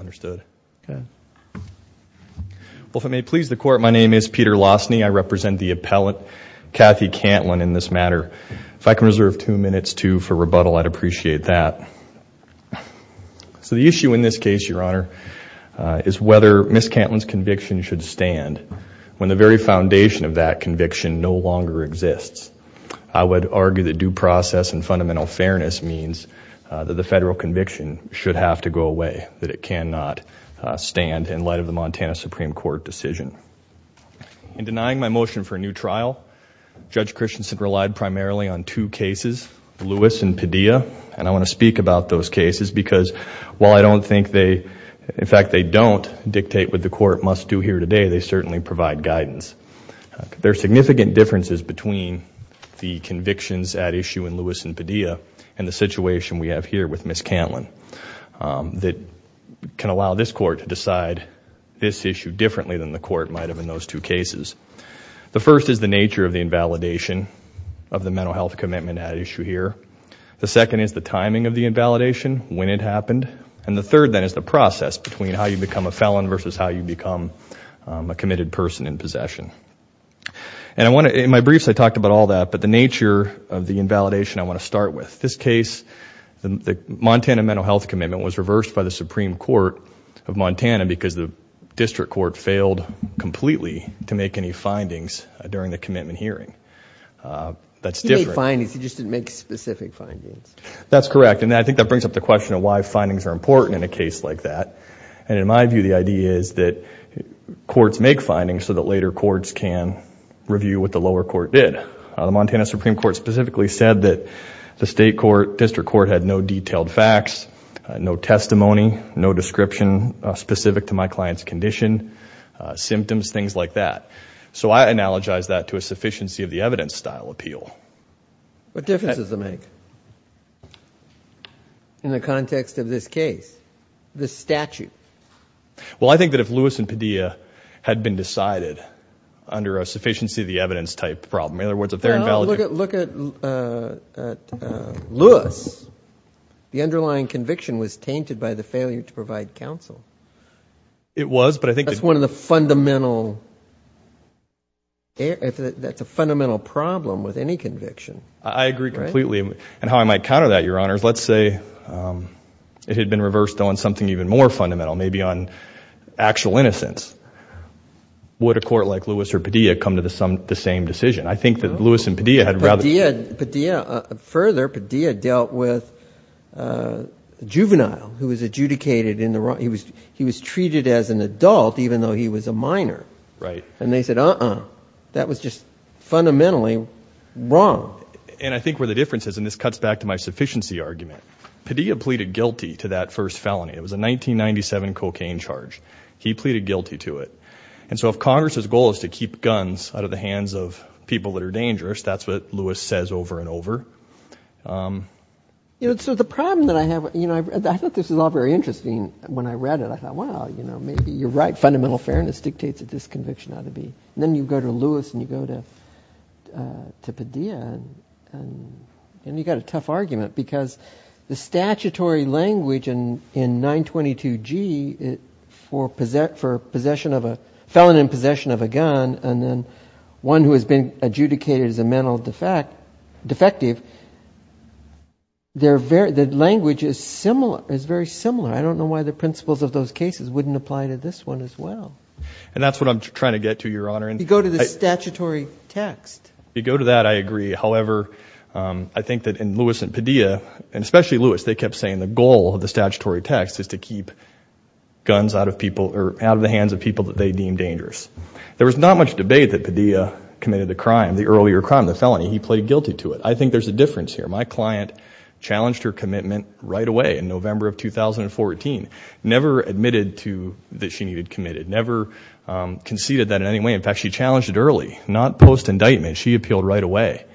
understood okay well if I may please the court my name is Peter Lossney I represent the appellant Kathy Cantlin in this matter if I can reserve two minutes to for rebuttal I'd appreciate that so the issue in this case your honor is whether miss Cantlin's conviction should stand when the very foundation of that conviction no longer exists I would argue that due process and fundamental fairness means that the federal conviction should have to go away that it cannot stand in light of the Montana Supreme Court decision in denying my motion for a new trial Judge Christensen relied primarily on two cases Lewis and Padilla and I want to speak about those cases because while I don't think they in fact they don't dictate what the court must do here today they certainly provide guidance there are significant differences between the convictions at issue in Lewis and Padilla and the situation we have here with miss Cantlin that can allow this court to decide this issue differently than the court might have in those two cases the first is the nature of the invalidation of the mental health commitment at issue here the second is the timing of the invalidation when it happened and the third then is the process between how you become a felon versus how you become a committed person in possession and I want to in my validation I want to start with this case the Montana mental health commitment was reversed by the Supreme Court of Montana because the district court failed completely to make any findings during the commitment hearing that's different findings you just didn't make specific findings that's correct and I think that brings up the question of why findings are important in a case like that and in my view the idea is that courts make findings so that later courts can review what the lower court did the Montana Supreme Court specifically said that the state court district court had no detailed facts no testimony no description specific to my clients condition symptoms things like that so I analogize that to a sufficiency of the evidence style appeal what difference does it make in the context of this case the statute well I think that if Lewis and Padilla had been decided under a Lewis the underlying conviction was tainted by the failure to provide counsel it was but I think that's one of the fundamental if that's a fundamental problem with any conviction I agree completely and how I might counter that your honors let's say it had been reversed on something even more fundamental maybe on actual innocence would a court like Lewis or Padilla come to the some the same decision I think that Lewis and Padilla had rather did Padilla further Padilla dealt with juvenile who was adjudicated in the right he was he was treated as an adult even though he was a minor right and they said uh-uh that was just fundamentally wrong and I think where the difference is and this cuts back to my sufficiency argument Padilla pleaded guilty to that first felony it was a 1997 cocaine charge he pleaded guilty to it and so if Congress's goal is to keep guns out of the hands of people that are dangerous that's what Lewis says over and over you know so the problem that I have you know I thought this is all very interesting when I read it I thought wow you know maybe you're right fundamental fairness dictates that this conviction ought to be then you go to Lewis and you go to to Padilla and you got a tough argument because the statutory language and in 922 G it for for possession of a felon in possession of a gun and then one who has been adjudicated as a mental defect defective they're very the language is similar is very similar I don't know why the principles of those cases wouldn't apply to this one as well and that's what I'm trying to get to your honor and you go to the statutory text you go to that I agree however I think that in Lewis and Padilla and especially Lewis they kept saying the goal of the out of the hands of people that they deem dangerous there was not much debate that Padilla committed the crime the earlier crime the felony he played guilty to it I think there's a difference here my client challenged her commitment right away in November of 2014 never admitted to that she needed committed never conceded that in any way in fact she challenged it early not post indictment she appealed right away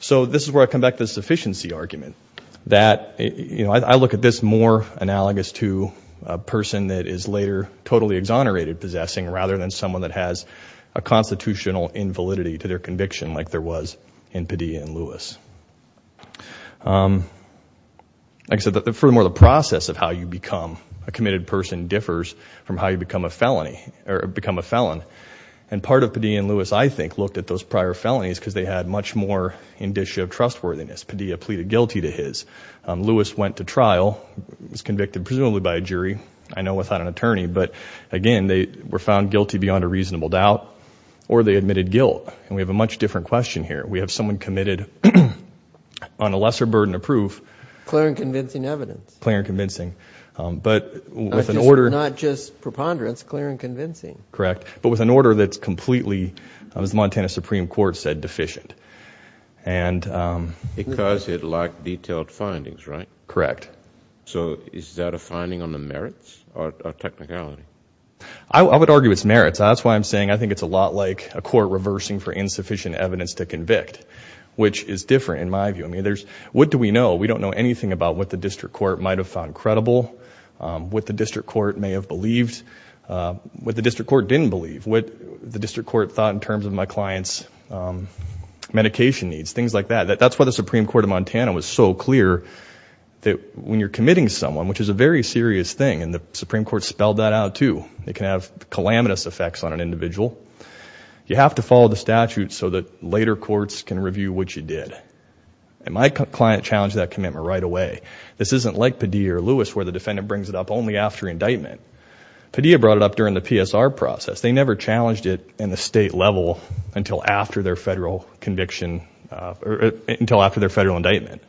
so this is where I come back to the sufficiency argument that you know I look at this more analogous to a person that is later totally exonerated possessing rather than someone that has a constitutional invalidity to their conviction like there was in Padilla and Lewis like so that the furthermore the process of how you become a committed person differs from how you become a felony or become a felon and part of Padilla and Lewis I think looked at those prior felonies because they had much more indicia of trustworthiness Padilla pleaded guilty to his Lewis went to trial was convicted presumably by a jury I know without an attorney but again they were found guilty beyond a reasonable doubt or they admitted guilt and we have a much different question here we have someone committed on a lesser burden of proof clear and convincing evidence clear convincing but with an order not just preponderance clear and convincing correct but with an order that's completely I was Montana Supreme Court said deficient and because it lacked detailed findings right correct so is that a finding on the merits or technicality I would argue it's merits that's why I'm saying I think it's a lot like a court reversing for insufficient evidence to convict which is different in my view I mean there's what do we know we don't know anything about what the district court might have found credible what the district court may have believed what the district court didn't believe what the district court thought in terms of my clients medication needs things like that that's what the Supreme Court of Montana was so clear that when you're committing someone which is a very serious thing and the Supreme Court spelled that out too they can have calamitous effects on an individual you have to follow the statute so that later courts can review what you did and my client challenged that commitment right away this isn't like Padilla or Lewis where the defendant brings it up only after indictment Padilla brought it up during the PSR process they never challenged it in the state level until after their federal conviction or until after their federal indictment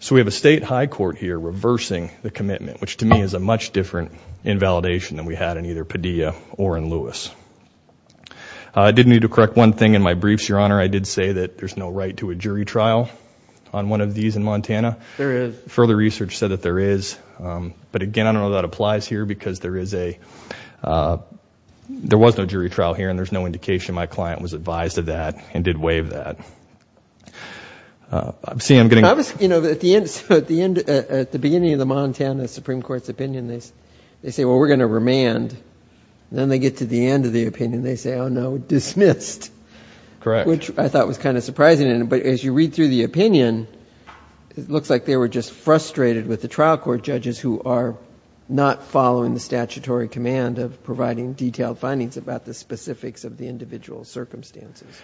so we have a state high court here reversing the commitment which to me is a much different invalidation than we had in either Padilla or in Lewis I didn't need to correct one thing in my briefs your honor I did say that there's no right to a jury trial on one of these in Montana there is further research said that there is but again I don't know that applies here because there is a there is no indication my client was advised of that and did waive that I'm seeing I'm getting obvious you know that the end at the end at the beginning of the Montana Supreme Court's opinion they say well we're gonna remand then they get to the end of the opinion they say oh no dismissed correct which I thought was kind of surprising in it but as you read through the opinion it looks like they were just frustrated with the trial court judges who are not following the of the individual circumstances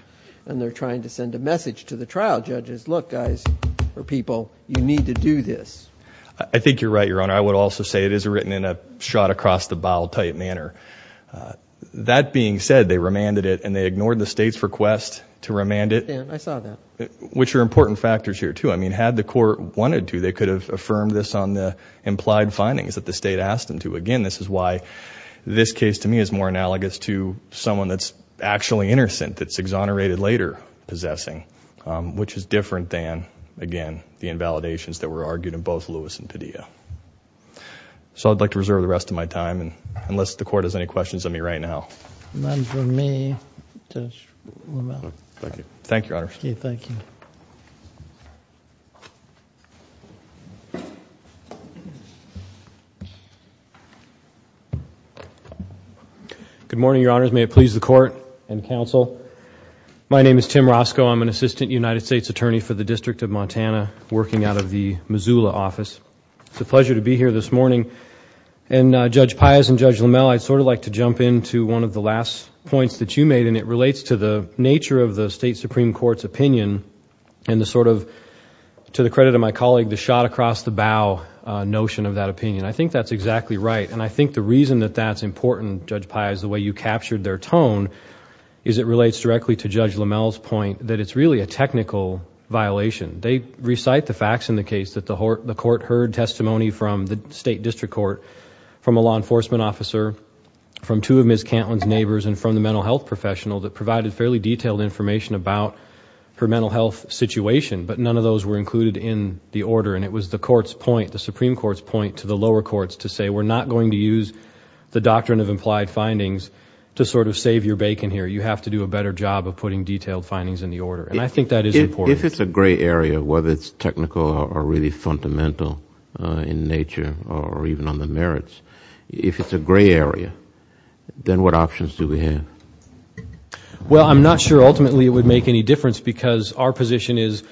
and they're trying to send a message to the trial judges look guys or people you need to do this I think you're right your honor I would also say it is written in a shot-across-the-bowl type manner that being said they remanded it and they ignored the state's request to remand it which are important factors here too I mean had the court wanted to they could have affirmed this on the implied findings that the state asked them to again this is why this case to me is more analogous to someone that's actually innocent that's exonerated later possessing which is different than again the invalidations that were argued in both Lewis and Padilla so I'd like to reserve the rest of my time and unless the court has any questions on me right now thank you thank you good morning your honors may it please the court and counsel my name is Tim Roscoe I'm an assistant United States attorney for the District of Montana working out of the Missoula office it's a pleasure to be here this morning and Judge Pius and Judge Lamel I'd sort of like to jump into one of the last points that you made and it relates to the nature of the state Supreme Court's sort of to the credit of my colleague the shot across the bow notion of that opinion I think that's exactly right and I think the reason that that's important Judge Pius the way you captured their tone is it relates directly to Judge Lamel's point that it's really a technical violation they recite the facts in the case that the court heard testimony from the state district court from a law enforcement officer from two of Ms. Cantlin's neighbors and from the mental health professional that provided fairly detailed information about her mental health situation but none of those were included in the order and it was the courts point the Supreme Court's point to the lower courts to say we're not going to use the doctrine of implied findings to sort of save your bacon here you have to do a better job of putting detailed findings in the order and I think that is important if it's a gray area whether it's technical or really fundamental in nature or even on the merits if it's a gray area then what options do we have well I'm not sure ultimately it would make any difference because our position is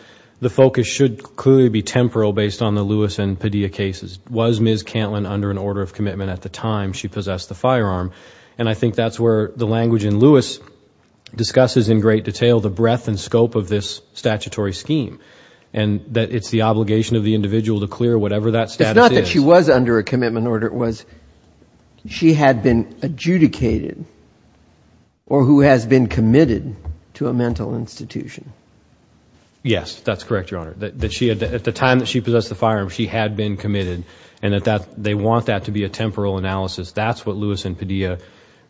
the focus should clearly be temporal based on the Lewis and Padilla cases was Ms. Cantlin under an order of commitment at the time she possessed the firearm and I think that's where the language in Lewis discusses in great detail the breadth and scope of this statutory scheme and that it's the obligation of the individual to clear whatever that's not that she was under a commitment order it was she had been adjudicated or who has been committed to a mental institution yes that's correct your honor that she had at the time that she possessed the firearm she had been committed and at that they want that to be a temporal analysis that's what Lewis and Padilla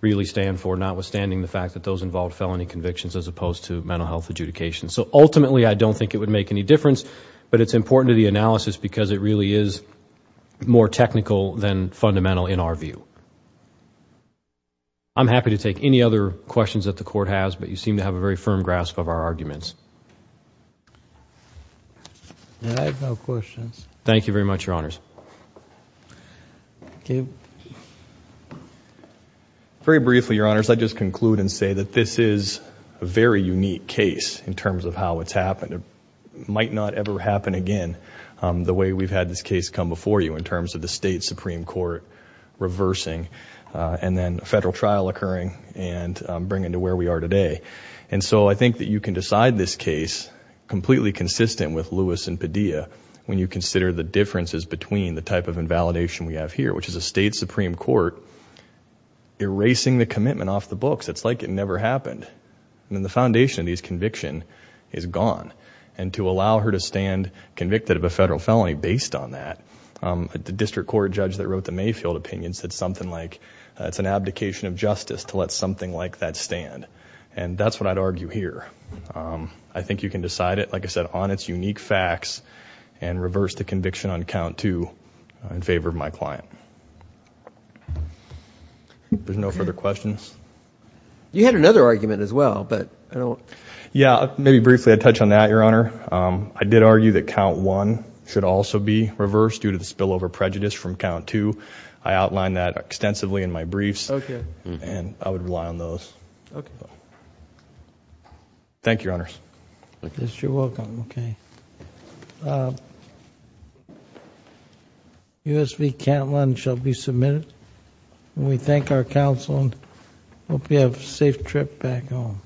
really stand for notwithstanding the fact that those involved felony convictions as opposed to mental health adjudication so ultimately I don't think it would make any difference but it's important to the more technical than fundamental in our view I'm happy to take any other questions that the court has but you seem to have a very firm grasp of our arguments thank you very much your honors very briefly your honors I just conclude and say that this is a very unique case in terms of how it's happened it might not ever happen again the way we've had this case come before you in terms of the state Supreme Court reversing and then federal trial occurring and bring into where we are today and so I think that you can decide this case completely consistent with Lewis and Padilla when you consider the differences between the type of invalidation we have here which is a state Supreme Court erasing the commitment off the books it's like it never happened and then the foundation of these conviction is gone and to allow her to stand convicted of a federal felony based on that the district court judge that wrote the Mayfield opinion said something like it's an abdication of justice to let something like that stand and that's what I'd argue here I think you can decide it like I said on its unique facts and reverse the conviction on count to in favor of my client there's no further questions you had another argument as well but I don't yeah maybe briefly I touch on that your I did argue that count one should also be reversed due to the spillover prejudice from count to I outlined that extensively in my briefs okay and I would rely on those okay thank you honors yes you're welcome okay USB can't lunch I'll be submitted and we thank our counsel and hope you have a safe trip back home